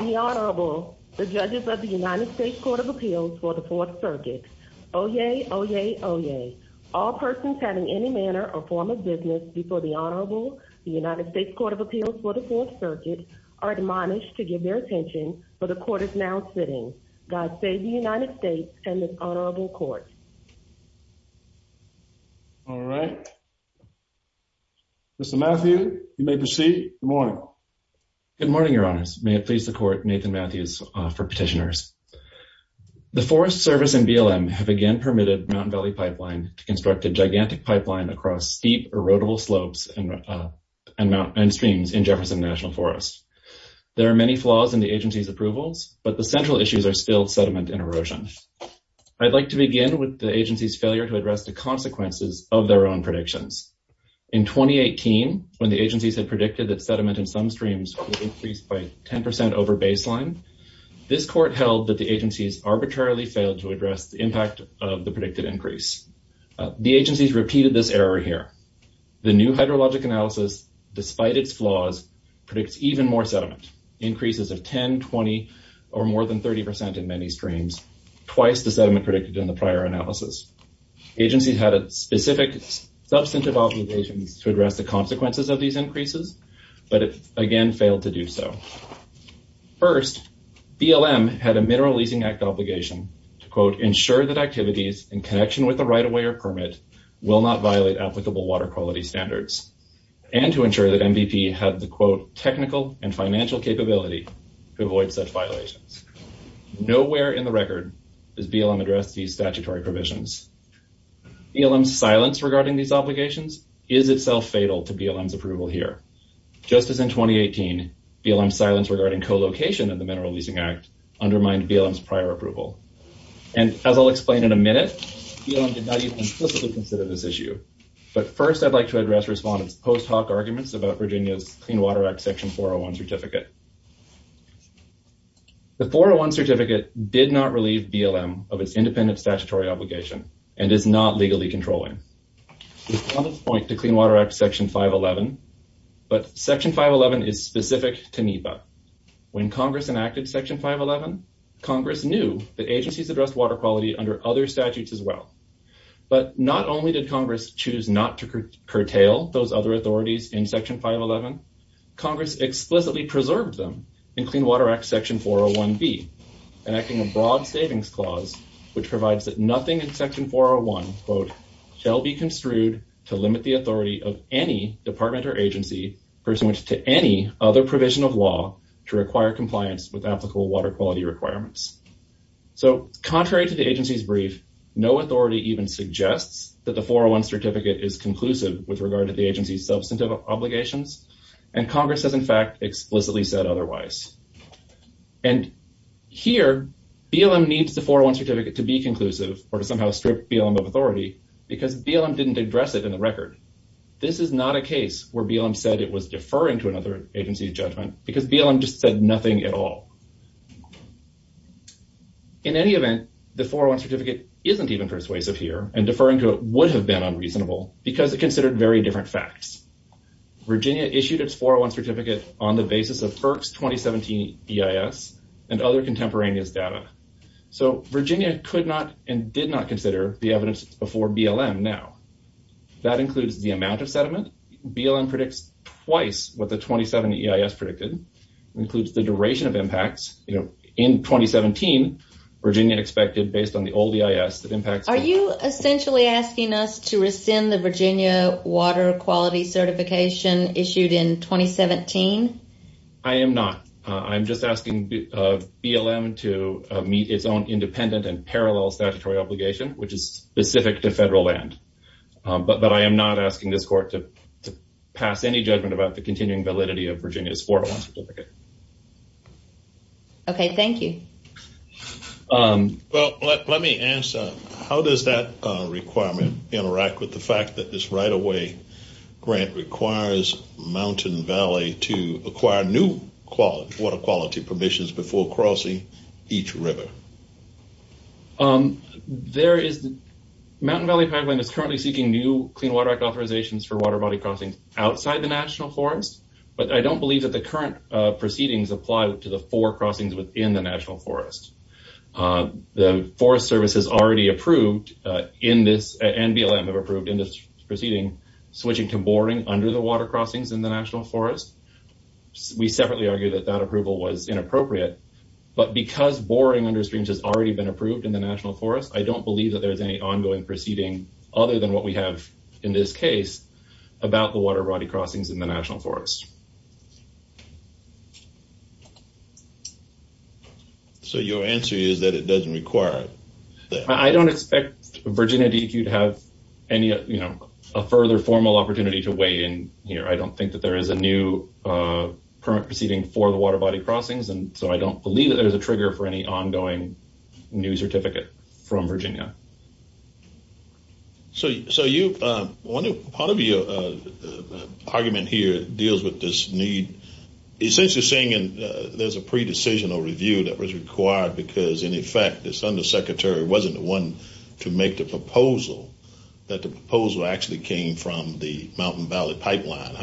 The Honorable, the Judges of the United States Court of Appeals for the Fourth Circuit. Oyez! Oyez! Oyez! All persons having any manner or form of business before the Honorable, the United States Court of Appeals for the Fourth Circuit, are admonished to give their attention where the Court is now sitting. God save the United States and this Honorable Court. All right. Mr. Matthew, you may proceed. Good morning. Good morning, Your Honors. May it please the Court, Nathan Matthews for Petitioners. The Forest Service and BLM have again permitted Mountain Valley Pipeline to construct a gigantic pipeline across steep, erodible slopes and streams in Jefferson National Forest. There are many flaws in the agency's approvals, but the central issues are still sediment and erosion. I'd like to begin with the agency's failure to address the consequences of their own predictions. In 2018, when the agencies had predicted that sediment in some streams would increase by 10% over baseline, this Court held that the agencies arbitrarily failed to address the impact of the predicted increase. The agencies repeated this error here. The new hydrologic analysis, despite its flaws, predicts even more sediment, increases of 10%, 20%, or more than 30% in many streams, twice the sediment predicted in the prior analysis. The agencies had specific substantive obligations to address the consequences of these increases, but again failed to do so. First, BLM had a Mineral Leasing Act obligation to, quote, ensure that activities in connection with the right-of-way or permit will not violate applicable water quality standards, and to avoid such violations. Nowhere in the record has BLM addressed these statutory provisions. BLM's silence regarding these obligations is itself fatal to BLM's approval here, just as in 2018, BLM's silence regarding co-location of the Mineral Leasing Act undermined BLM's prior approval. And, as I'll explain in a minute, BLM did not even explicitly consider this issue. But first, I'd like to address respondents' post hoc arguments about Virginia's Clean Water Act and the 401 certificate. The 401 certificate did not relieve BLM of its independent statutory obligation, and is not legally controlling. This points to Clean Water Act Section 511, but Section 511 is specific to NEPA. When Congress enacted Section 511, Congress knew that agencies addressed water quality under other statutes as well. But not only did Congress choose not to curtail those other authorities in Section 511, Congress explicitly preserved them in Clean Water Act Section 401b, enacting a broad savings clause which provides that nothing in Section 401, quote, shall be construed to limit the authority of any department or agency pursuant to any other provision of law to require compliance with applicable water quality requirements. So, contrary to the agency's brief, no authority even suggests that the 401 certificate is conclusive with regard to the agency's substantive obligations. And Congress has, in fact, explicitly said otherwise. And here, BLM needs the 401 certificate to be conclusive or to somehow strip BLM of authority because BLM didn't address it in the record. This is not a case where BLM said it was deferring to another agency's judgment because BLM just said nothing at all. In any event, the 401 certificate isn't even persuasive here and deferring to it would have been unreasonable because it considered very different facts. Virginia issued its 401 certificate on the basis of FERC's 2017 EIS and other contemporaneous data. So, Virginia could not and did not consider the evidence before BLM now. That includes the amount of sediment. BLM predicts twice what the 2017 EIS predicted. It includes the duration of impacts. In 2017, Virginia expected, based on the old EIS, that impacts... Are you essentially asking us to rescind the Virginia water quality certification issued in 2017? I am not. I'm just asking BLM to meet its own independent and parallel statutory obligation, which is specific to federal land. But I am not asking this court to pass any judgment about the continuing validity of Virginia's 401 certificate. Okay, thank you. Well, let me ask, how does that requirement interact with the fact that this right-of-way grant requires Mountain Valley to acquire new water quality permissions before crossing each river? There is... Mountain Valley pipeline is currently seeking new Clean Water Act authorizations for water body crossings outside the National Forest. But I don't believe that the current proceedings apply to the four crossings within the National Forest. The Forest Service has already approved in this... And BLM have approved in this proceeding, switching to boring under the water crossings in the National Forest. We separately argue that that approval was inappropriate. But because boring under streams has already been approved in the National Forest, I don't believe that there is any ongoing proceeding, other than what we have in this case, about the water body crossings in the National Forest. So, your answer is that it doesn't require... I don't expect Virginia DEQ to have any, you know, a further formal opportunity to weigh in here. I don't think that there is a new permit proceeding for the water body crossings. And so, I don't believe that there's a trigger for any ongoing new certificate from Virginia. So, you... Part of your argument here deals with this need, essentially saying there's a pre-decision or review that was required because, in effect, this undersecretary wasn't the one to make the proposal, that the proposal actually came from the Mountain Valley Pipeline.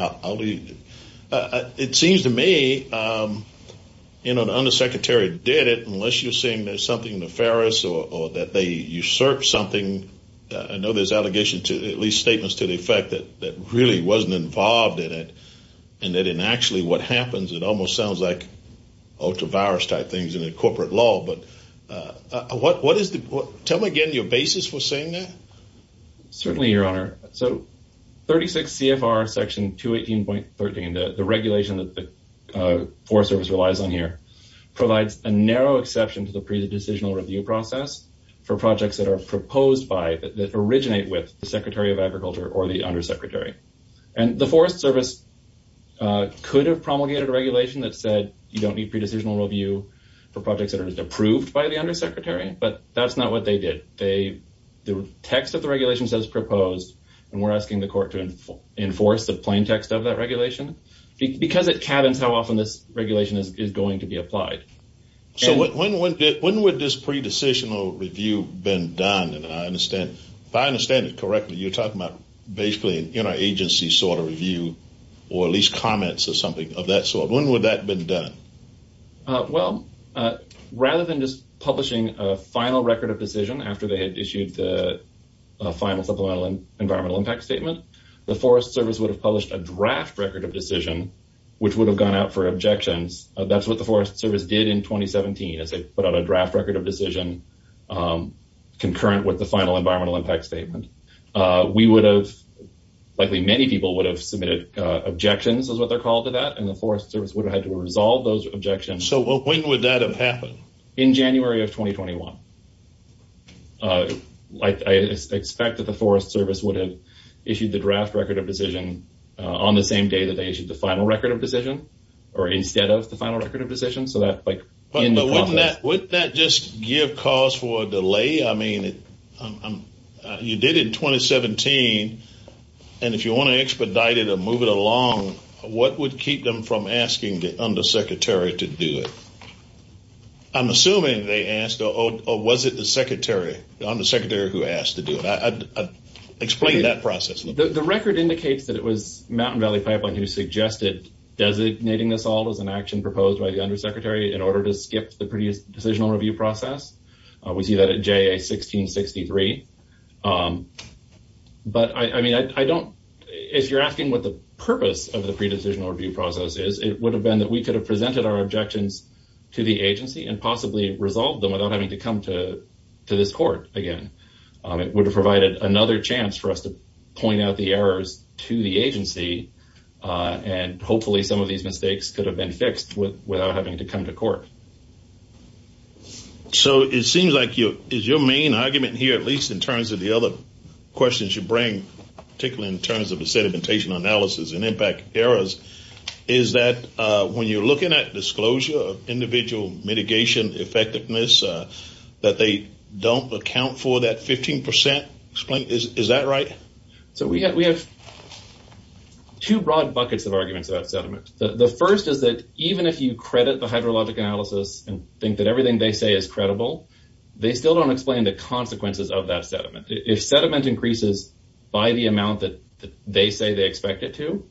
It seems to me, you know, the undersecretary did it, unless you're saying there's something nefarious or that they usurped something. I know there's allegations, at least statements to the effect, that really wasn't involved in it, and that in actually what happens, it almost sounds like ultra-virus-type things in a corporate law. But what is the... Tell me again your basis for saying that. Certainly, Your Honor. So, 36 CFR Section 218.13, the regulation that the Forest Service relies on here, provides a narrow exception to the pre-decisional review process for projects that are proposed by... That originate with the Secretary of Agriculture or the undersecretary. And the Forest Service could have promulgated a regulation that said, you don't need pre-decisional review for projects that are approved by the undersecretary, but that's not what they did. They... The text of the regulation says proposed, and we're asking the court to enforce the plain text of that regulation. Because it cabins how often this regulation is going to be applied. So, when would this pre-decisional review been done? And I understand, if I understand it correctly, you're talking about basically an interagency sort of review, or at least comments or something of that sort. When would that been done? Well, rather than just publishing a final record of decision after they had issued the final supplemental environmental impact statement, the Forest Service would have published a draft record of decision, which would have gone out for objections. That's what the Forest Service did in 2017, is they put out a draft record of decision concurrent with the final environmental impact statement. We would have... Likely many people would have submitted objections is what they're called to that, and the Forest Service would have had to resolve those objections. So, when would that have happened? In January of 2021. I expect that the Forest Service would have issued the draft record of decision on the same day that they issued the final record of decision, or instead of the final record of decision. So, that like... But wouldn't that just give cause for a delay? I mean, you did it in 2017, and if you want to expedite it or move it along, what would keep them from asking the undersecretary to do it? I'm assuming they asked, or was it the secretary, the undersecretary who asked to do it? Explain that process a little bit. The record indicates that it was Mountain Valley Pipeline who suggested designating this all as an action proposed by the undersecretary in order to skip the pre-decisional review process. We see that at JA-1663. But, I mean, I don't... If you're asking what the purpose of the pre-decisional review process is, it would have been that we could have presented our objections to the agency and possibly resolved them without having to come to this court again. It would have provided another chance for us to point out the errors to the agency, and hopefully some of these mistakes could have been fixed without having to come to court. So, it seems like your... Is your main argument here, at least in terms of the other questions you bring, particularly in terms of the sedimentation analysis and impact errors, is that when you're looking at disclosure of individual mitigation effectiveness, that they don't account for that 15%? Is that right? So, we have two broad buckets of arguments about sediment. The first is that even if you credit the hydrologic analysis and think that everything they say is credible, they still don't explain the consequences of that sediment. If sediment increases by the amount that they say they expect it to,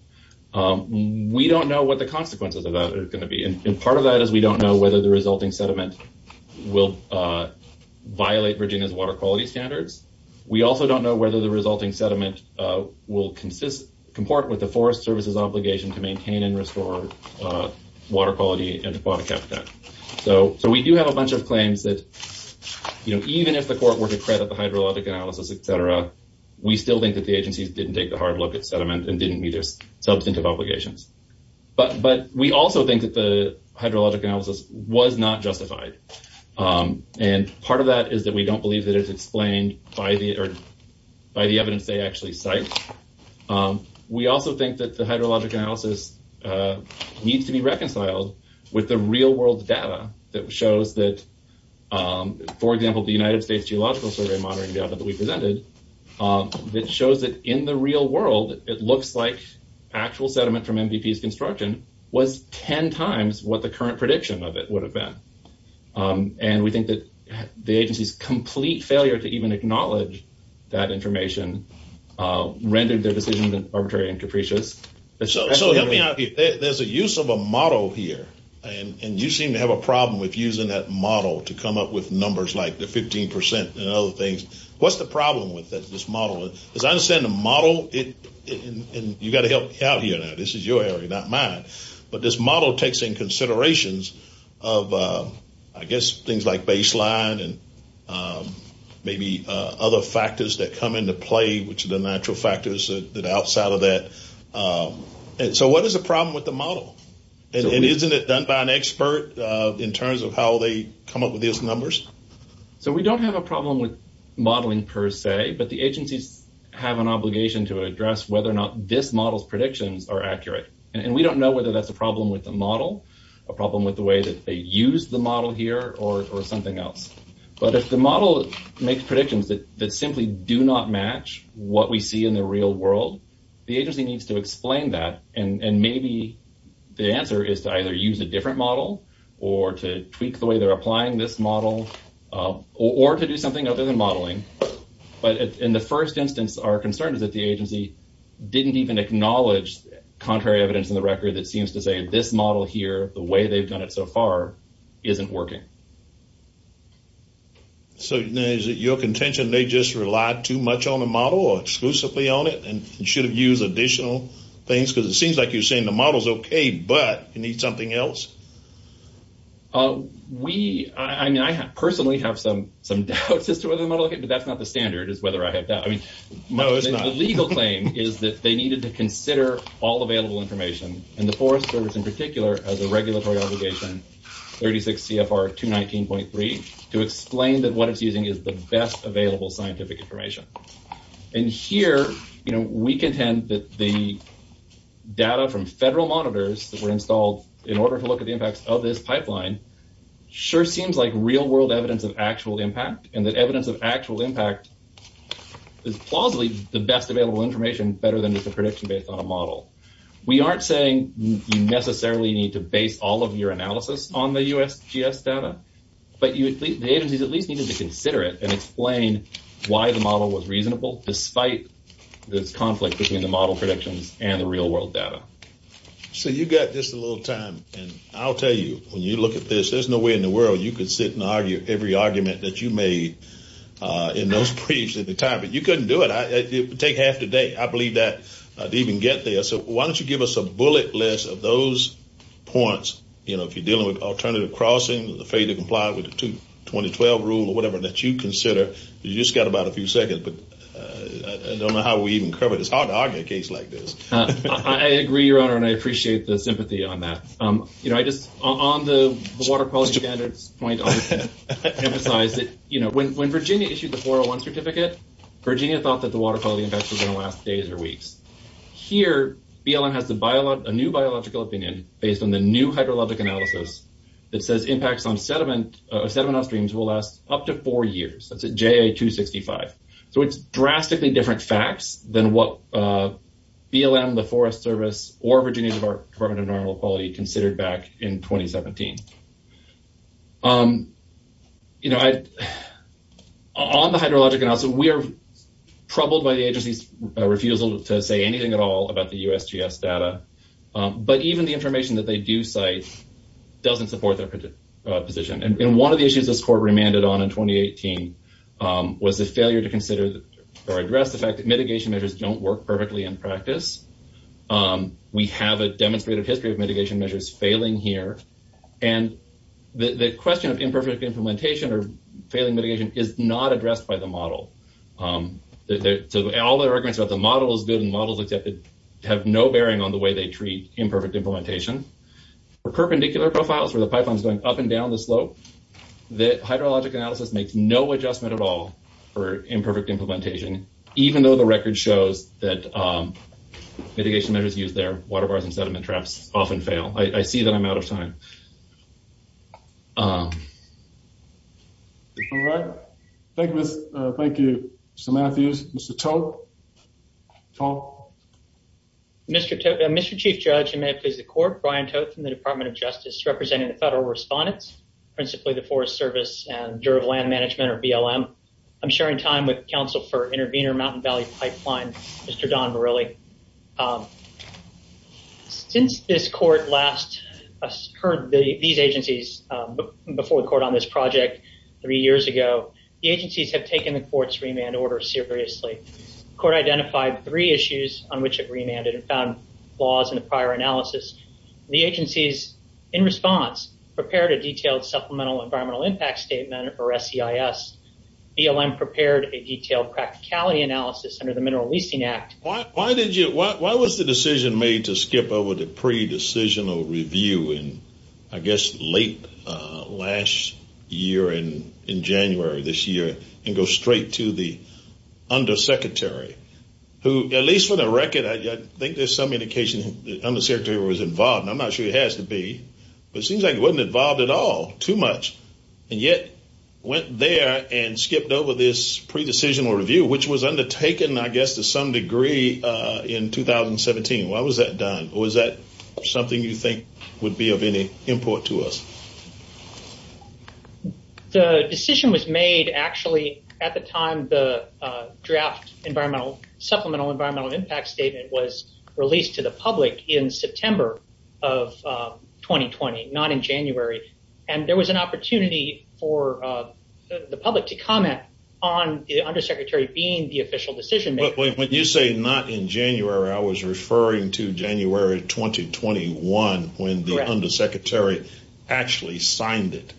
we don't know what the consequences of that are going to be. Part of that is we don't know whether the resulting sediment will violate Virginia's water quality standards. We also don't know whether the resulting sediment will comport with the Forest Service's obligation to maintain and restore water quality and aquatic habitat. So, we do have a bunch of claims that even if the court were to credit the hydrologic analysis, et cetera, we still think that the agencies didn't take the hard look at sediment and didn't meet their substantive obligations. But we also think that the hydrologic analysis was not justified, and part of that is that we don't believe that it's explained by the evidence they actually cite. We also think that the hydrologic analysis needs to be reconciled with the real-world data that shows that, for example, the United States Geological Survey monitoring data that shows that in the real world, it looks like actual sediment from MVP's construction was 10 times what the current prediction of it would have been. And we think that the agency's complete failure to even acknowledge that information rendered their decision arbitrary and capricious. So, there's a use of a model here, and you seem to have a problem with using that model to come up with numbers like the 15 percent and other things. What's the problem with this model? Because I understand the model, and you've got to help me out here now. This is your area, not mine, but this model takes in considerations of, I guess, things like baseline and maybe other factors that come into play, which are the natural factors that are outside of that. So, what is the problem with the model? And isn't it done by an expert in terms of how they come up with these numbers? So, we don't have a problem with modeling per se, but the agencies have an obligation to address whether or not this model's predictions are accurate. And we don't know whether that's a problem with the model, a problem with the way that they use the model here, or something else. But if the model makes predictions that simply do not match what we see in the real world, the agency needs to explain that, and maybe the answer is to either use a different model or to tweak the way they're applying this model, or to do something other than modeling. But in the first instance, our concern is that the agency didn't even acknowledge contrary evidence in the record that seems to say this model here, the way they've done it so far, isn't working. So, is it your contention they just relied too much on the model or exclusively on it and should have used additional things? Because it seems like you're saying the model's okay, but you need something else? We, I mean, I personally have some doubts as to whether the model, but that's not the standard, is whether I have doubts. No, it's not. The legal claim is that they needed to consider all available information, and the Forest Service in particular has a regulatory obligation, 36 CFR 219.3, to explain that what it's using is the best available scientific information. And here, you know, we contend that the data from federal monitors that were installed in order to look at the impacts of this pipeline sure seems like real-world evidence of actual impact, and that evidence of actual impact is plausibly the best available information better than just a prediction based on a model. We aren't saying you necessarily need to base all of your analysis on the USGS data, but the agencies at least needed to consider it and explain why the model was reasonable despite this conflict between the model predictions and the real-world data. So you've got just a little time, and I'll tell you, when you look at this, there's no way in the world you could sit and argue every argument that you made in those briefs at the time, but you couldn't do it. It would take half the day, I believe that, to even get there. So why don't you give us a bullet list of those points, you know, if you're dealing with alternative crossing, afraid to comply with the 2012 rule or whatever that you consider. You've just got about a few seconds, but I don't know how we even cover this. It's hard to argue a case like this. I agree, Your Honor, and I appreciate the sympathy on that. You know, I just, on the water quality standards point, I want to emphasize that, you know, when Virginia issued the 401 certificate, Virginia thought that the water quality impacts were going to last days or weeks. Here, BLM has a new biological opinion based on the new hydrologic analysis that says impacts on sediment or sediment on streams will last up to four years. That's at JA-265. So it's drastically different facts than what BLM, the Forest Service, or Virginia Department of Environmental Quality considered back in 2017. You know, on the hydrologic analysis, we are troubled by the agency's refusal to say anything at all about the USGS data. But even the information that they do cite doesn't support their position. And one of the issues this Court remanded on in 2018 was the failure to consider or address the fact that mitigation measures don't work perfectly in practice. We have a demonstrative history of mitigation measures failing here, and the question of imperfect implementation or failing mitigation is not addressed by the model. So all the arguments about the model is good and the model is accepted have no bearing on the way they treat imperfect implementation. For perpendicular profiles, where the pipeline is going up and down the slope, the hydrologic analysis makes no adjustment at all for imperfect implementation, even though the record shows that mitigation measures used there, water bars and sediment traps, often fail. I see that I'm out of time. All right. Thank you, Mr. Matthews. Mr. Tote? Mr. Chief Judge, and may it please the Court, Brian Tote from the Department of Justice, representing the Federal Respondents, principally the Forest Service, and the Juror of Land Management, or BLM. I'm sharing time with counsel for Intervenor Mountain Valley Pipeline, Mr. Don Morelli. Since this Court last heard these agencies before the Court on this project three years ago, the agencies have taken the Court's remand order seriously. The Court identified three issues on which it remanded and found flaws in the prior analysis. The agencies, in response, prepared a detailed Supplemental Environmental Impact Statement, or SEIS. BLM prepared a detailed practicality analysis under the Mineral Leasing Act. Why did you, why was the decision made to skip over the pre-decisional review in, I guess, late last year, in January of this year, and go straight to the Undersecretary, who, at least for the record, I think there's some indication the Undersecretary was involved, and I'm not sure he has to be, but it seems like he wasn't involved at all, too much. And yet, went there and skipped over this pre-decisional review, which was undertaken, I guess, to some degree in 2017. Why was that done? Or was that something you think would be of any import to us? The decision was made, actually, at the time the draft Environmental, Supplemental Environmental Impact Statement was released to the public in September of 2020, not in January. And there was an opportunity for the public to comment on the Undersecretary being the official decision-maker. When you say not in January, I was referring to January 2021, when the Undersecretary actually signed it.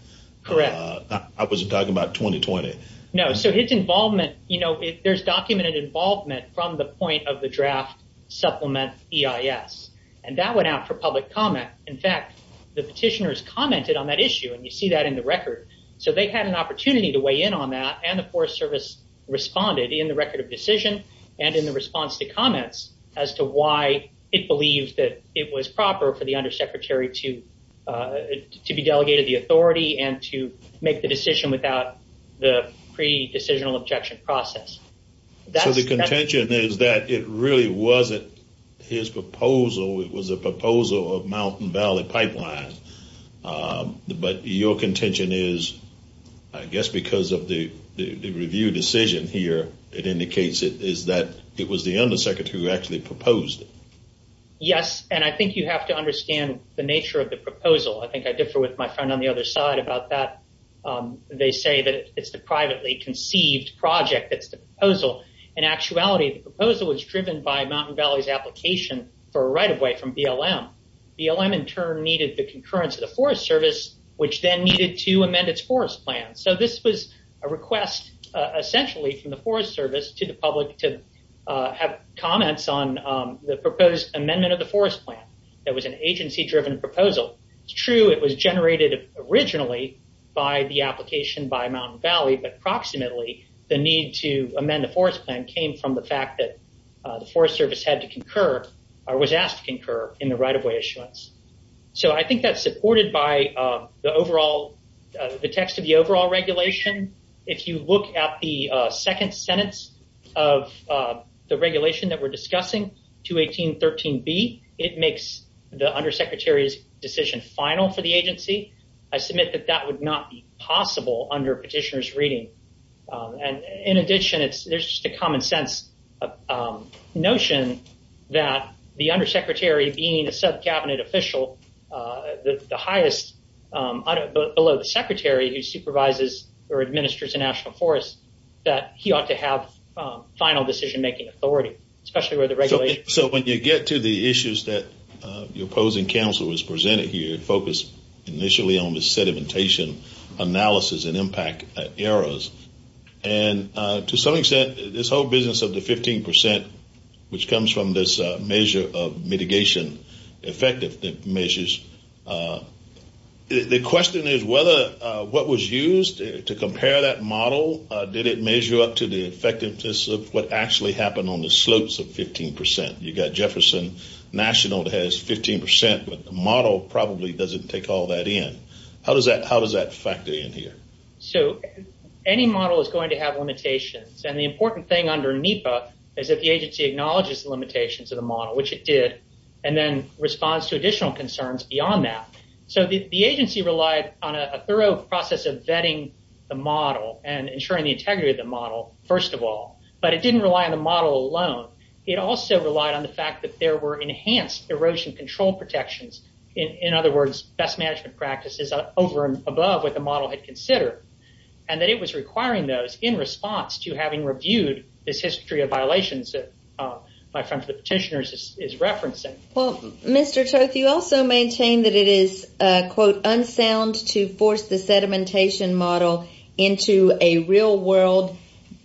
Correct. I wasn't talking about 2020. No, so his involvement, you know, there's documented involvement from the point of the draft Supplement EIS. And that went out for public comment. In fact, the petitioners commented on that issue, and you see that in the record. So, they had an opportunity to weigh in on that, and the Forest Service responded in the record of decision and in the response to comments as to why it believes that it was proper for the Undersecretary to be delegated the authority and to make the decision without the pre-decisional objection process. So, the contention is that it really wasn't his proposal. It was a proposal of Mountain Valley Pipeline. But your contention is, I guess because of the review decision here, it indicates that it was the Undersecretary who actually proposed it. Yes, and I think you have to understand the nature of the proposal. I think I differ with my friend on the other side about that. They say that it's the privately conceived project that's the proposal. In actuality, the proposal was driven by Mountain Valley's application for a right-of-way from BLM. BLM, in turn, needed the concurrence of the Forest Service, which then needed to amend its Forest Plan. So, this was a request, essentially, from the Forest Service to the public to have comments on the proposed amendment of the Forest Plan. That was an agency-driven proposal. It's true it was generated originally by the application by Mountain Valley, but approximately the need to amend the Forest Plan came from the fact that the Forest Service had to concur or was asked to concur in the right-of-way issuance. So, I think that's supported by the text of the overall regulation. If you look at the second sentence of the regulation that we're discussing, 218.13b, it makes the undersecretary's decision final for the agency. I submit that that would not be possible under petitioner's reading. In addition, there's just a common-sense notion that the undersecretary, being a sub-Cabinet official, the highest, below the secretary who supervises or administers the National Forest, that he ought to have final decision-making authority, especially with the regulation. So, when you get to the issues that your opposing counsel has presented here, it focused initially on the sedimentation analysis and impact errors. And to some extent, this whole business of the 15 percent, which comes from this measure of mitigation, effective measures, the question is whether what was used to compare that model, did it measure up to the effectiveness of what actually happened on the slopes of 15 percent? You've got Jefferson National that has 15 percent, but the model probably doesn't take all that in. How does that factor in here? So, any model is going to have limitations. And the important thing under NEPA is that the agency acknowledges the limitations of the model, which it did, and then responds to additional concerns beyond that. So, the agency relied on a thorough process of vetting the model and ensuring the integrity of the model, first of all, but it didn't rely on the model alone. It also relied on the fact that there were enhanced erosion control protections, in other words, best management practices over and above what the model had considered, and that it was requiring those in response to having reviewed this history of violations that my friend from the petitioners is referencing. Well, Mr. Toth, you also maintain that it is, quote, unsound to force the sedimentation model into a real-world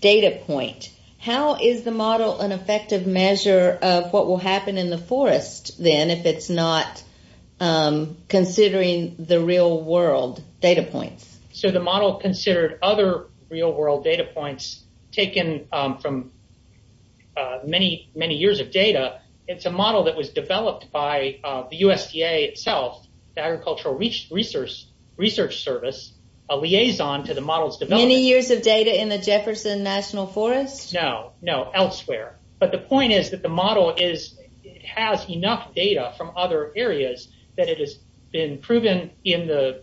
data point. How is the model an effective measure of what will happen in the forest, then, if it's not considering the real-world data points? So, the model considered other real-world data points taken from many, many years of data. It's a model that was developed by the USDA itself, the Agricultural Research Service, a liaison to the model's development. Many years of data in the Jefferson National Forest? No, no, elsewhere. But the point is that the model has enough data from other areas that it has been proven in the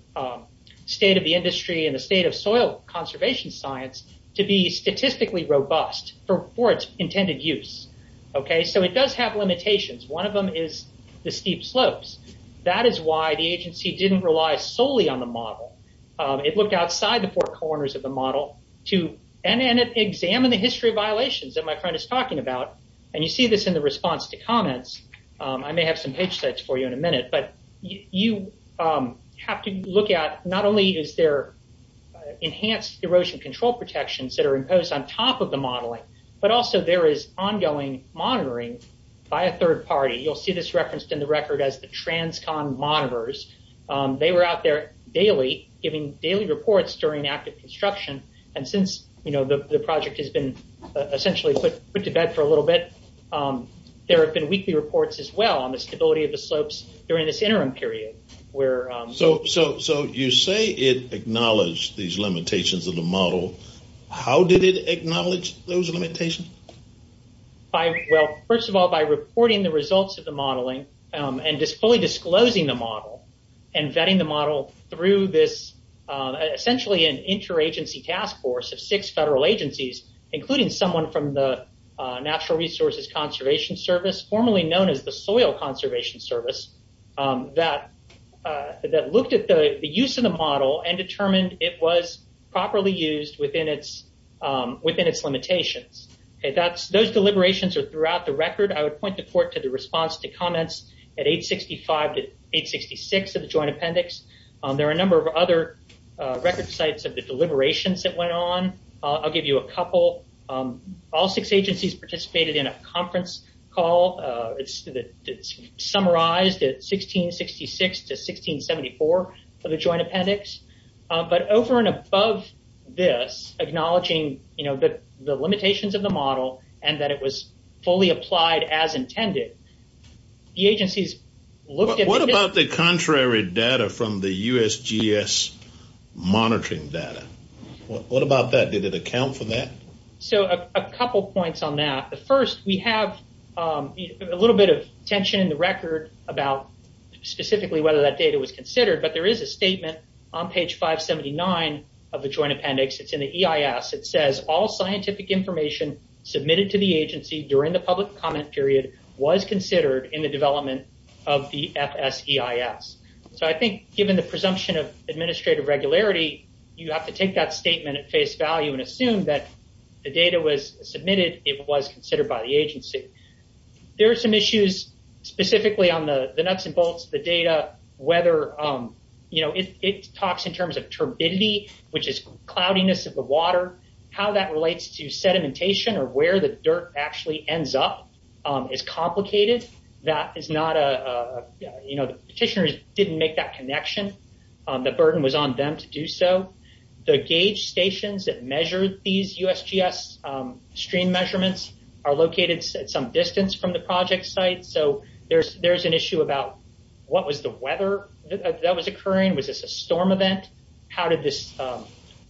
state of the industry and the state of soil conservation science to be statistically robust for its intended use. So, it does have limitations. One of them is the steep slopes. That is why the agency didn't rely solely on the model. It looked outside the four corners of the model to examine the history of violations that my friend is talking about, and you see this in the response to comments. I may have some page sets for you in a minute, but you have to look at, not only is there enhanced erosion control protections that are imposed on top of the modeling, but also there is ongoing monitoring by a third party. You'll see this referenced in the record as the TransCon monitors. They were out there daily giving daily reports during active construction, and since the project has been essentially put to bed for a little bit, there have been weekly reports as well on the stability of the slopes during this interim period. So, you say it acknowledged these limitations of the model. How did it acknowledge those limitations? Well, first of all, by reporting the results of the modeling and fully disclosing the model and vetting the model through essentially an interagency task force of six federal agencies, including someone from the Natural Resources Conservation Service, formerly known as the Soil Conservation Service, that looked at the use of the model and determined it was properly used within its limitations. Those deliberations are throughout the record. I would point the court to the response to comments at 865 to 866 of the Joint Appendix. There are a number of other record sites of the deliberations that went on. I'll give you a couple. All six agencies participated in a conference call. It's summarized at 1666 to 1674 of the Joint Appendix. But over and above this, acknowledging the limitations of the model and that it was fully applied as intended, the agencies looked at this. What about the contrary data from the USGS monitoring data? What about that? Did it account for that? So, a couple points on that. First, we have a little bit of tension in the record about specifically whether that data was considered, but there is a statement on page 579 of the Joint Appendix. It's in the EIS. It says, all scientific information submitted to the agency during the public comment period was considered in the development of the FSEIS. So I think given the presumption of administrative regularity, you have to take that statement at face value and assume that the data was submitted, it was considered by the agency. There are some issues specifically on the nuts and bolts of the data, whether it talks in terms of turbidity, which is cloudiness of the water, how that relates to sedimentation or where the dirt actually ends up is complicated. That is not a, you know, petitioners didn't make that connection. The burden was on them to do so. The gauge stations that measured these USGS stream measurements are located at some distance from the project site. So there's an issue about what was the weather that was occurring? Was this a storm event? How did this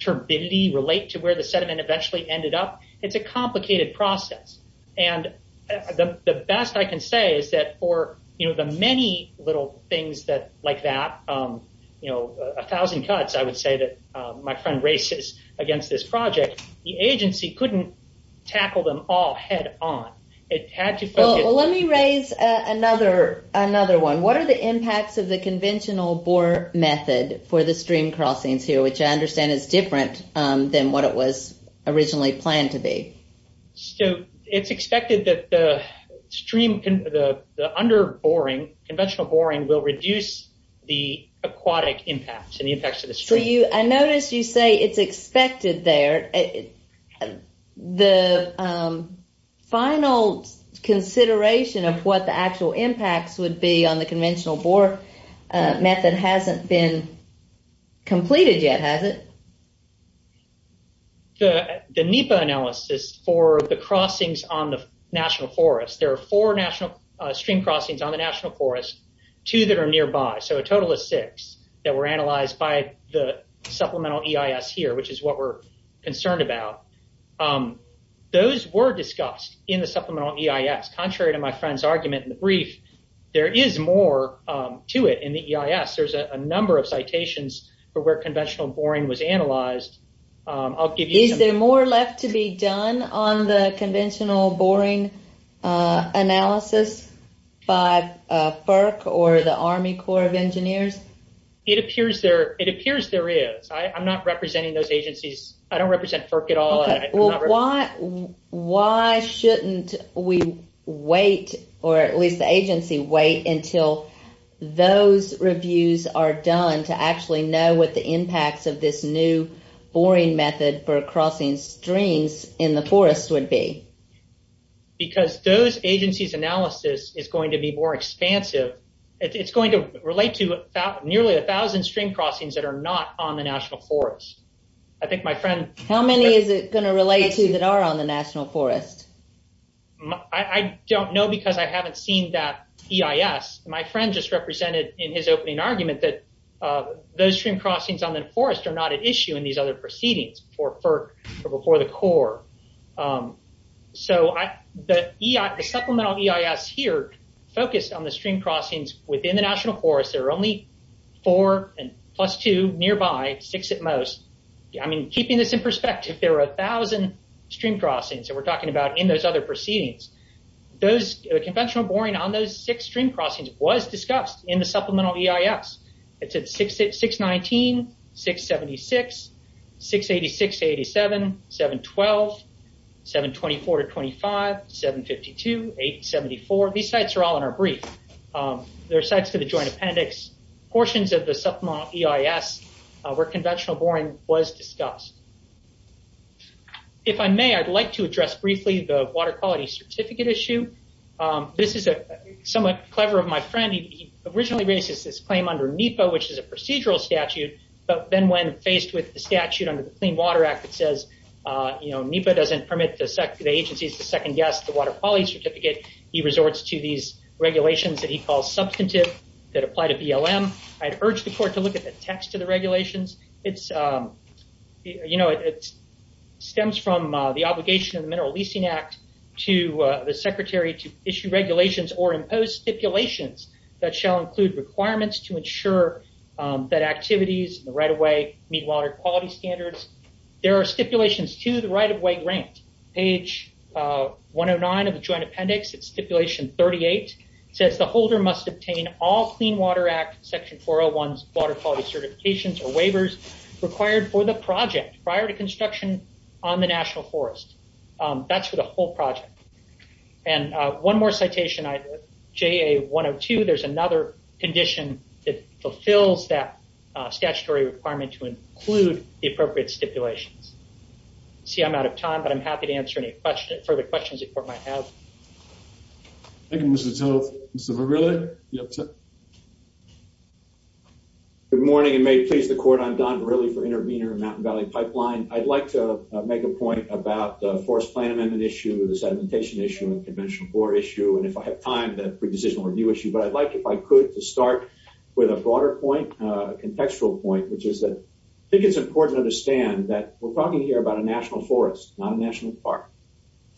turbidity relate to where the sediment eventually ended up? It's a complicated process. And the best I can say is that for, you know, the many little things like that, you know, a thousand cuts I would say that my friend races against this project, the agency couldn't tackle them all head on. Let me raise another one. What are the impacts of the conventional bore method for the stream crossings here, which I understand is different than what it was originally planned to be? So it's expected that the stream, the under boring, conventional boring will reduce the aquatic impacts and the effects of the stream. I noticed you say it's expected there. The final consideration of what the actual impacts would be on the conventional bore method hasn't been completed yet, has it? The NEPA analysis for the crossings on the national forest, there are four stream crossings on the national forest, two that are nearby. So a total of six that were analyzed by the supplemental EIS here, which is what we're concerned about. Those were discussed in the supplemental EIS. Contrary to my friend's argument in the brief, there is more to it in the EIS. There's a number of citations for where conventional boring was analyzed. Is there more left to be done on the conventional boring analysis by FERC or the Army Corps of Engineers? It appears there is. I'm not representing those agencies. I don't represent FERC at all. Why shouldn't we wait or at least the agency wait until those reviews are done to actually know what the impacts of this new boring method for crossing streams in the forest would be? Because those agencies' analysis is going to be more expansive. It's going to relate to nearly a thousand stream crossings that are not on the national forest. How many is it going to relate to that are on the national forest? I don't know because I haven't seen that EIS. My friend just represented in his opening argument that those stream crossings on the forest are not at issue in these other proceedings before the Corps. The supplemental EIS here focused on the stream crossings within the national forest. There are only four plus two nearby, six at most. Keeping this in perspective, there are a thousand stream crossings that we're talking about in those other proceedings. The conventional boring on those six stream crossings was discussed in the supplemental EIS. It's at 619, 676, 686-87, 712, 724-25, 752, 874. These sites are all in our brief. There are sites for the joint appendix, portions of the supplemental EIS where conventional boring was discussed. If I may, I'd like to address briefly the water quality certificate issue. This is somewhat clever of my friend. He originally raises this claim under NEPA, which is a procedural statute, but then when faced with the statute under the Clean Water Act, it says NEPA doesn't permit the agencies to second guess the water quality certificate. He resorts to these regulations that he calls substantive that apply to BLM. I'd urge the court to look at the text of the regulations. It stems from the obligation of the Mineral Leasing Act to the secretary to issue regulations or impose stipulations that shall include requirements to ensure that activities in the right-of-way meet water quality standards. There are stipulations to the right-of-way grant. Page 109 of the joint appendix, it's stipulation 38, says the holder must obtain all Clean Water Act Section 401's water quality certifications or waivers required for the project prior to construction on the National Forest. That's for the whole project. One more citation, JA 102, there's another condition that fulfills that statutory requirement to include the appropriate stipulations. See, I'm out of time, but I'm happy to answer any further questions the court might have. Thank you, Mr. Toth. Mr. Verrilli, you have time. Good morning, and may it please the court, I'm Don Verrilli for Intervenor Mountain Valley Pipeline. I'd like to make a point about the Forest Plan Amendment issue, the Sedimentation Issue and Conventional Floor Issue, and if I have time, the Pre-Decisional Review Issue. But I'd like, if I could, to start with a broader point, a contextual point, which is that I think it's important to understand that we're talking here about a national forest, not a national park,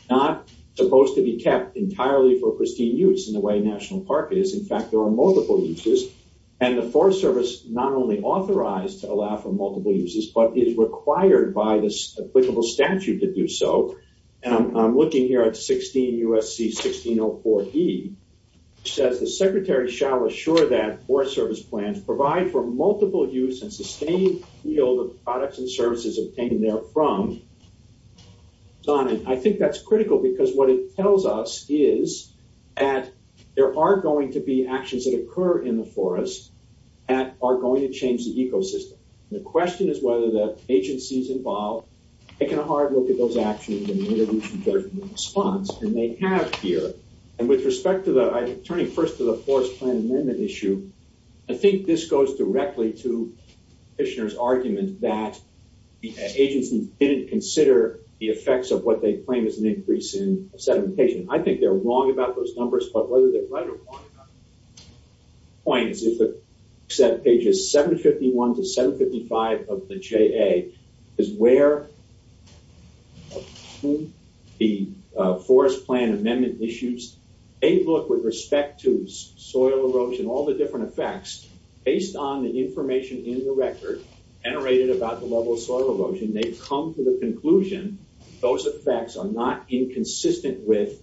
not supposed to be kept entirely for pristine use in the way a national park is. In fact, there are multiple uses, and the Forest Service not only authorized to allow for multiple uses, but is required by the applicable statute to do so. And I'm looking here at 16 U.S.C. 1604E, which says, The Secretary shall assure that Forest Service plans provide for multiple use and sustained yield of products and services obtained therefrom. And I think that's critical, because what it tells us is that there are going to be actions that occur in the forest that are going to change the ecosystem. And the question is whether the agencies involved have taken a hard look at those actions and made a reasonable response, and they have here. And with respect to the, turning first to the Forest Plan Amendment issue, I think this goes directly to Fishner's argument that the agencies didn't consider the effects of what they claim is an increase in sedimentation. I think they're wrong about those numbers, but whether they're right or wrong about it, the point is that pages 751 to 755 of the JA is where the Forest Plan Amendment issues, they look with respect to soil erosion, all the different effects, based on the information in the record generated about the level of soil erosion, they've come to the conclusion those effects are not inconsistent with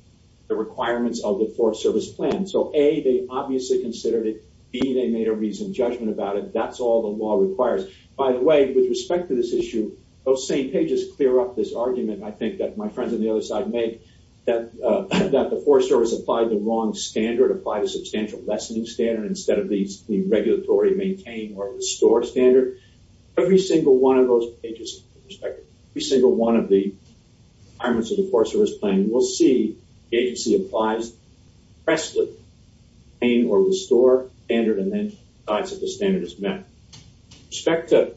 the requirements of the Forest Service plan. So A, they obviously considered it. B, they made a reasoned judgment about it. That's all the law requires. By the way, with respect to this issue, those same pages clear up this argument, I think, that my friends on the other side make, that the Forest Service applied the wrong standard, applied a substantial lessening standard instead of the regulatory maintain or restore standard. Every single one of those pages, with respect to every single one of the requirements of the Forest Service plan, we'll see the agency applies presently maintain or restore standard and then decides if the standard is met. With respect to,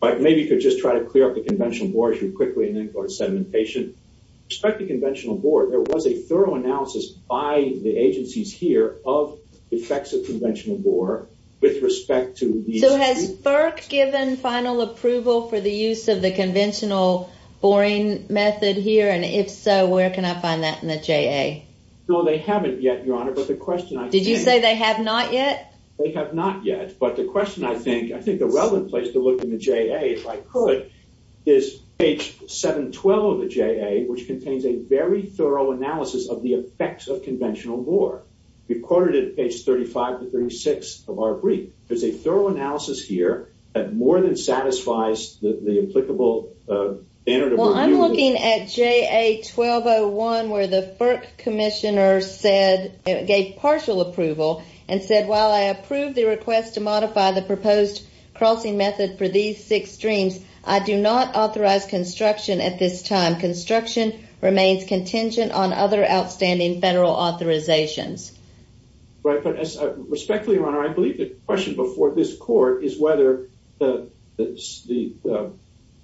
maybe you could just try to clear up the conventional board as you quickly, and then go to sedimentation. With respect to conventional board, there was a thorough analysis by the agencies here of the effects of conventional board with respect to these... So has FERC given final approval for the use of the conventional boring method here? And if so, where can I find that in the JA? No, they haven't yet, Your Honor, but the question I think... Did you say they have not yet? They have not yet, but the question I think, I think the relevant place to look in the JA, if I could, is page 712 of the JA, which contains a very thorough analysis of the effects of conventional board. We've quoted it at page 35 to 36 of our brief. There's a thorough analysis here that more than satisfies the applicable standard of review... Well, I'm looking at JA 1201, where the FERC commissioner gave partial approval and said, while I approve the request to modify the proposed crossing method for these six streams, I do not authorize construction at this time. Construction remains contingent on other outstanding federal authorizations. Right, but respectfully, Your Honor, I believe the question before this court is whether the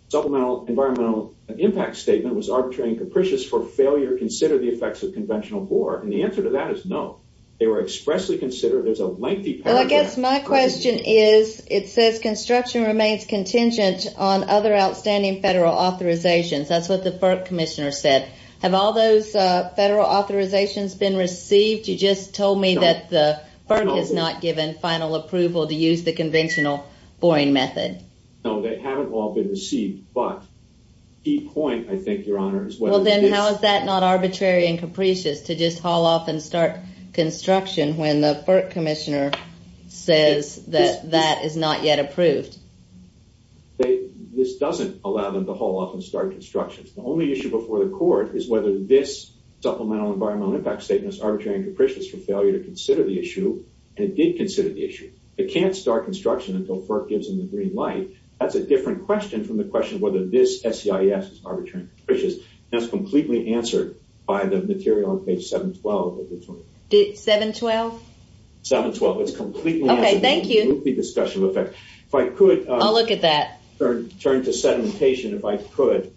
Supplemental Environmental Impact Statement was arbitrary and capricious for failure to consider the effects of conventional bore, and the answer to that is no. They were expressly considered as a lengthy paragraph... Well, I guess my question is, it says construction remains contingent on other outstanding federal authorizations. That's what the FERC commissioner said. Have all those federal authorizations been received? You just told me that the FERC has not given final approval to use the conventional boring method. No, they haven't all been received, but the key point, I think, Your Honor, is whether this... Well, then how is that not arbitrary and capricious to just haul off and start construction when the FERC commissioner says that that is not yet approved? This doesn't allow them to haul off and start construction. The only issue before the court is whether this Supplemental Environmental Impact Statement is arbitrary and capricious for failure to consider the issue, and it did consider the issue. It can't start construction until FERC gives them the green light. That's a different question from the question of whether this SEIS is arbitrary and capricious. That's completely answered by the material on page 712. 712? 712. It's completely answered... Okay, thank you. It's a completely discussion of effect. If I could... I'll look at that. ...turn to sedimentation, if I could.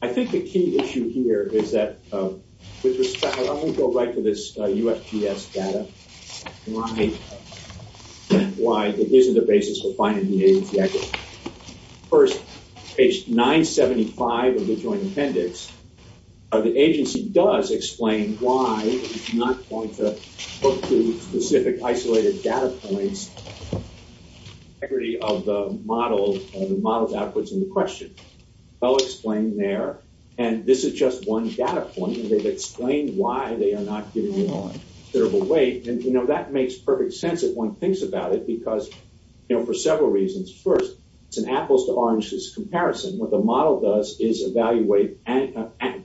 I think the key issue here is that, with respect... I'm going to go right to this UFPS data and why it isn't a basis for finding the agency activity. First, page 975 of the Joint Appendix, the agency does explain why it's not going to look to specific isolated data points. The integrity of the models outputs in the question, well explained there. And this is just one data point, and they've explained why they are not giving you a considerable weight. And, you know, that makes perfect sense if one thinks about it, because, you know, for several reasons. First, it's an apples-to-oranges comparison. What the model does is evaluate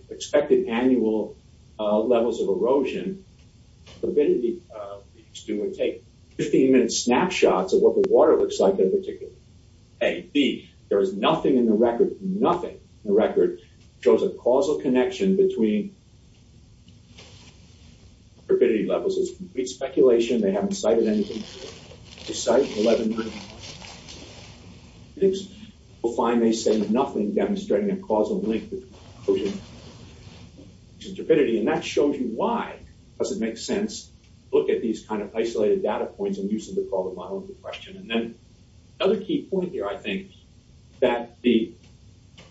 expected annual levels of erosion. Purpidity would take 15-minute snapshots of what the water looks like in particular. A. B. There is nothing in the record. Nothing in the record shows a causal connection between... ...purpidity levels. It's complete speculation. They haven't cited anything. They cite 11... ...find they say nothing demonstrating a causal link between... ...purpidity, and that shows you why. Does it make sense? Look at these kind of isolated data points and use them to call the model into question. And then another key point here, I think, that the...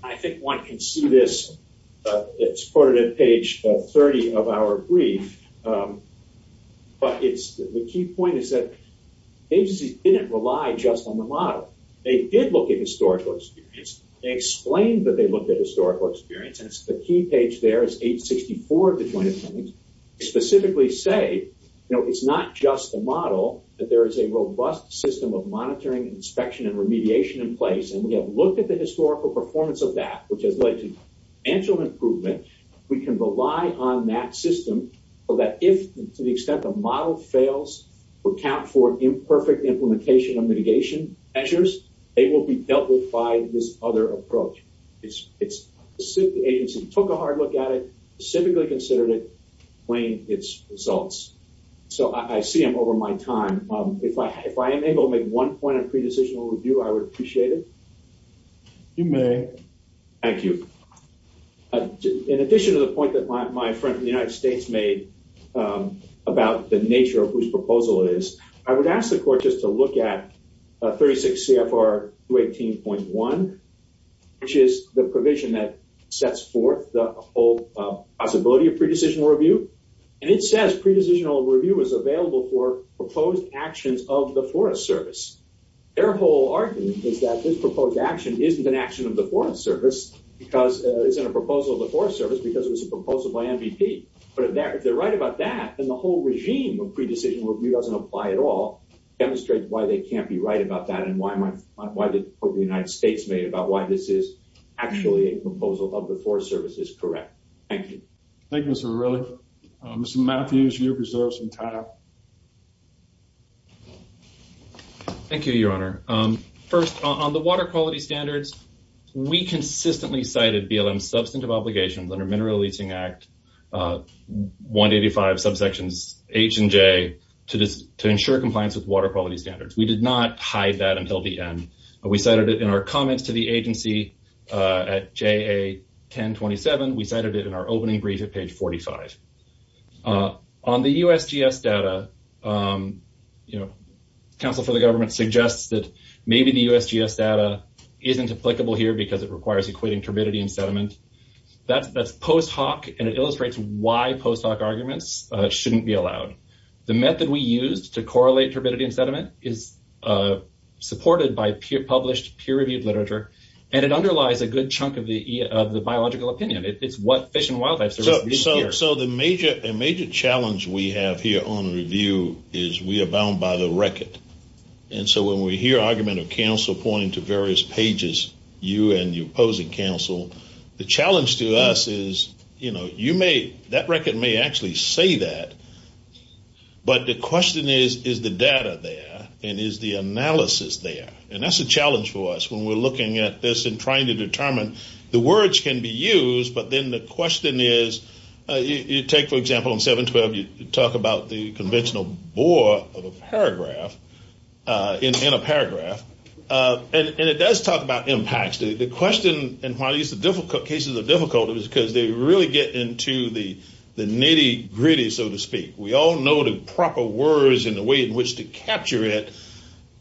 I think one can see this. It's quoted at page 30 of our brief. But the key point is that the agencies didn't rely just on the model. They did look at historical experience. They explained that they looked at historical experience, and the key page there is page 64 of the Joint Assemblies. They specifically say, you know, it's not just the model, that there is a robust system of monitoring, inspection, and remediation in place, and we have looked at the historical performance of that, which has led to financial improvement. We can rely on that system so that if, to the extent the model fails, accounts for imperfect implementation of mitigation measures, they will be dealt with by this other approach. It's...the agency took a hard look at it, specifically considered it, weighing its results. So I see I'm over my time. If I am able to make one point of pre-decisional review, I would appreciate it. You may. Thank you. In addition to the point that my friend from the United States made about the nature of whose proposal it is, I would ask the Court just to look at 36 CFR 218.1, which is the provision that sets forth the whole possibility of pre-decisional review. And it says pre-decisional review is available for proposed actions of the Forest Service. Their whole argument is that this proposed action isn't an action of the Forest Service because it isn't a proposal of the Forest Service because it was a proposal by MVP. But if they're right about that, then the whole regime of pre-decisional review doesn't apply at all. It demonstrates why they can't be right about that and why the Court of the United States made about why this is actually a proposal of the Forest Service is correct. Thank you. Thank you, Mr. Verrilli. Mr. Matthews, your reserves and time. Thank you, Your Honor. First, on the water quality standards, we consistently cited BLM's substantive obligations under Mineral Leasing Act 185 subsections H and J to ensure compliance with water quality standards. We did not hide that until the end. We cited it in our comments to the agency at JA 1027. We cited it in our opening brief at page 45. On the USGS data, counsel for the government suggests that maybe the USGS data isn't applicable here because it requires equating turbidity and sediment. That's post hoc and it illustrates why post hoc arguments shouldn't be allowed. The method we used to correlate turbidity and sediment is supported by published peer-reviewed literature and it underlies a good chunk of the biological opinion. It's what Fish and Wildlife Service did here. So the major challenge we have here on review is we abound by the record. And so when we hear argument of counsel pointing to various pages, you and your opposing counsel, the challenge to us is you may, that record may actually say that, but the question is, is the data there and is the analysis there? And that's a challenge for us when we're looking at this and trying to determine the words can be used, but then the question is, you take, for example, in 712, you talk about the conventional bore of a paragraph, in a paragraph, and it does talk about impacts. The question and why these cases are difficult is because they really get into the nitty gritty, so to speak. We all know the proper words and the way in which to capture it.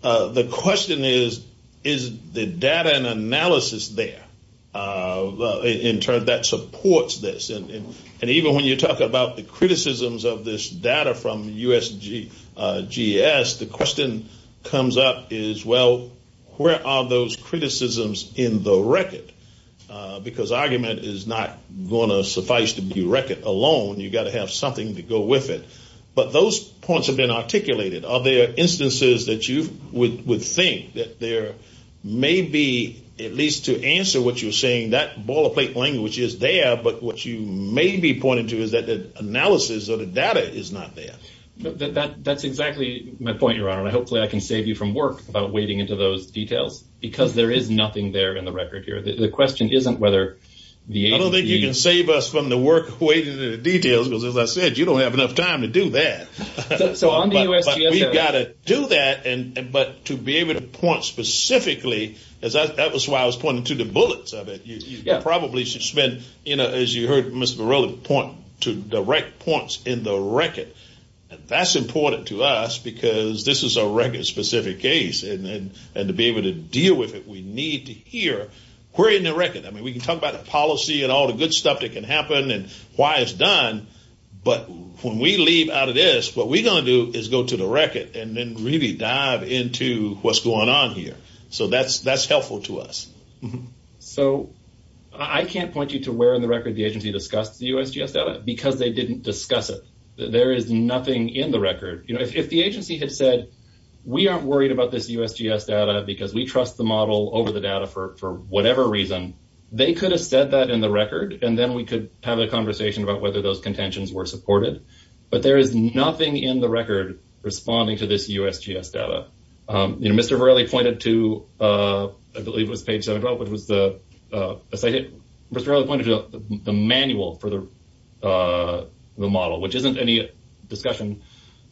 The question is, is the data and analysis there in turn that supports this? And even when you talk about the criticisms of this data from USGS, the question comes up is, well, where are those criticisms in the record? Because argument is not going to suffice to be record alone. You've got to have something to go with it. But those points have been articulated. Are there instances that you would think that there may be, at least to answer what you're saying, that boilerplate language is there, but what you may be pointing to is that the analysis or the data is not there. That's exactly my point, Your Honor, and hopefully I can save you from work about wading into those details, because there is nothing there in the record here. The question isn't whether the agency... I don't think you can save us from the work wading into the details, because as I said, you don't have enough time to do that. But we've got to do that, but to be able to point specifically, that was why I was pointing to the bullets of it. You probably should spend, as you heard Mr. Varela point, to direct points in the record. That's important to us, because this is a record-specific case, and to be able to deal with it, we need to hear where in the record. I mean, we can talk about the policy and all the good stuff that can happen and why it's done, but when we leave out of this, what we're going to do is go to the record and then really dive into what's going on here. So that's helpful to us. So I can't point you to where in the record the agency discussed the USGS data, because they didn't discuss it. There is nothing in the record. If the agency had said, we aren't worried about this USGS data because we trust the model over the data for whatever reason, they could have said that in the record, and then we could have a conversation about whether those contentions were supported. But there is nothing in the record responding to this USGS data. Mr. Varela pointed to, I believe it was page 712, Mr. Varela pointed to the manual for the model, which isn't any discussion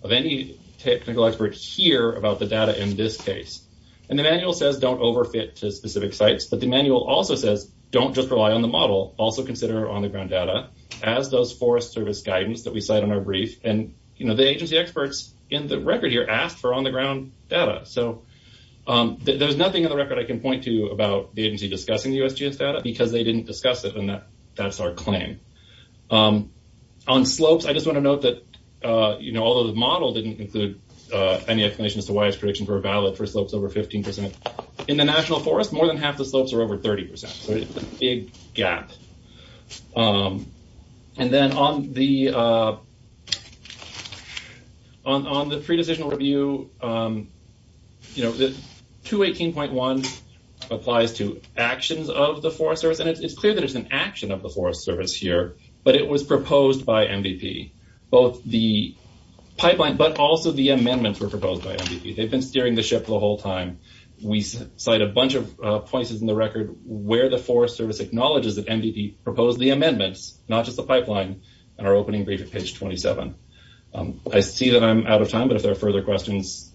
of any technical expert here about the data in this case. And the manual says don't overfit to specific sites, but the manual also says, don't just rely on the model, also consider on-the-ground data, as does Forest Service guidance that we cite in our brief. And the agency experts in the record here asked for on-the-ground data. So there's nothing in the record I can point to about the agency discussing the USGS data because they didn't discuss it, and that's our claim. On slopes, I just want to note that, although the model didn't include any explanations as to why its predictions were valid for slopes over 15%, in the National Forest, more than half the slopes are over 30%. So it's a big gap. And then on the on the pre-decisional review, the 218.1 applies to actions of the Forest Service, and it's clear that it's an action of the Forest Service here, but it was proposed by MVP. Both the pipeline, but also the amendments were proposed by MVP. They've been steering the ship the whole time. We cite a bunch of places in the record where the Forest Service acknowledges that MVP proposed the amendments, not just the pipeline, in our opening brief at page 27. I see that I'm out of time, but if there are further questions,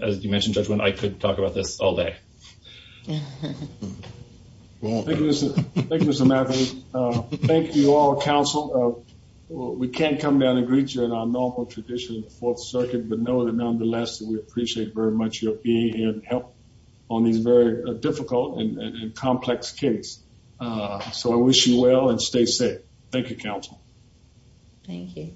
as you mentioned, Judge Wynn, I could talk about this all day. Thank you, Mr. Matthews. Thank you all, counsel. We can't come down and greet you in our normal tradition of the Fourth Circuit, but know that nonetheless, we appreciate very much your being here and help on these very difficult and complex case. So I wish you well and stay safe. Thank you, counsel. Thank you.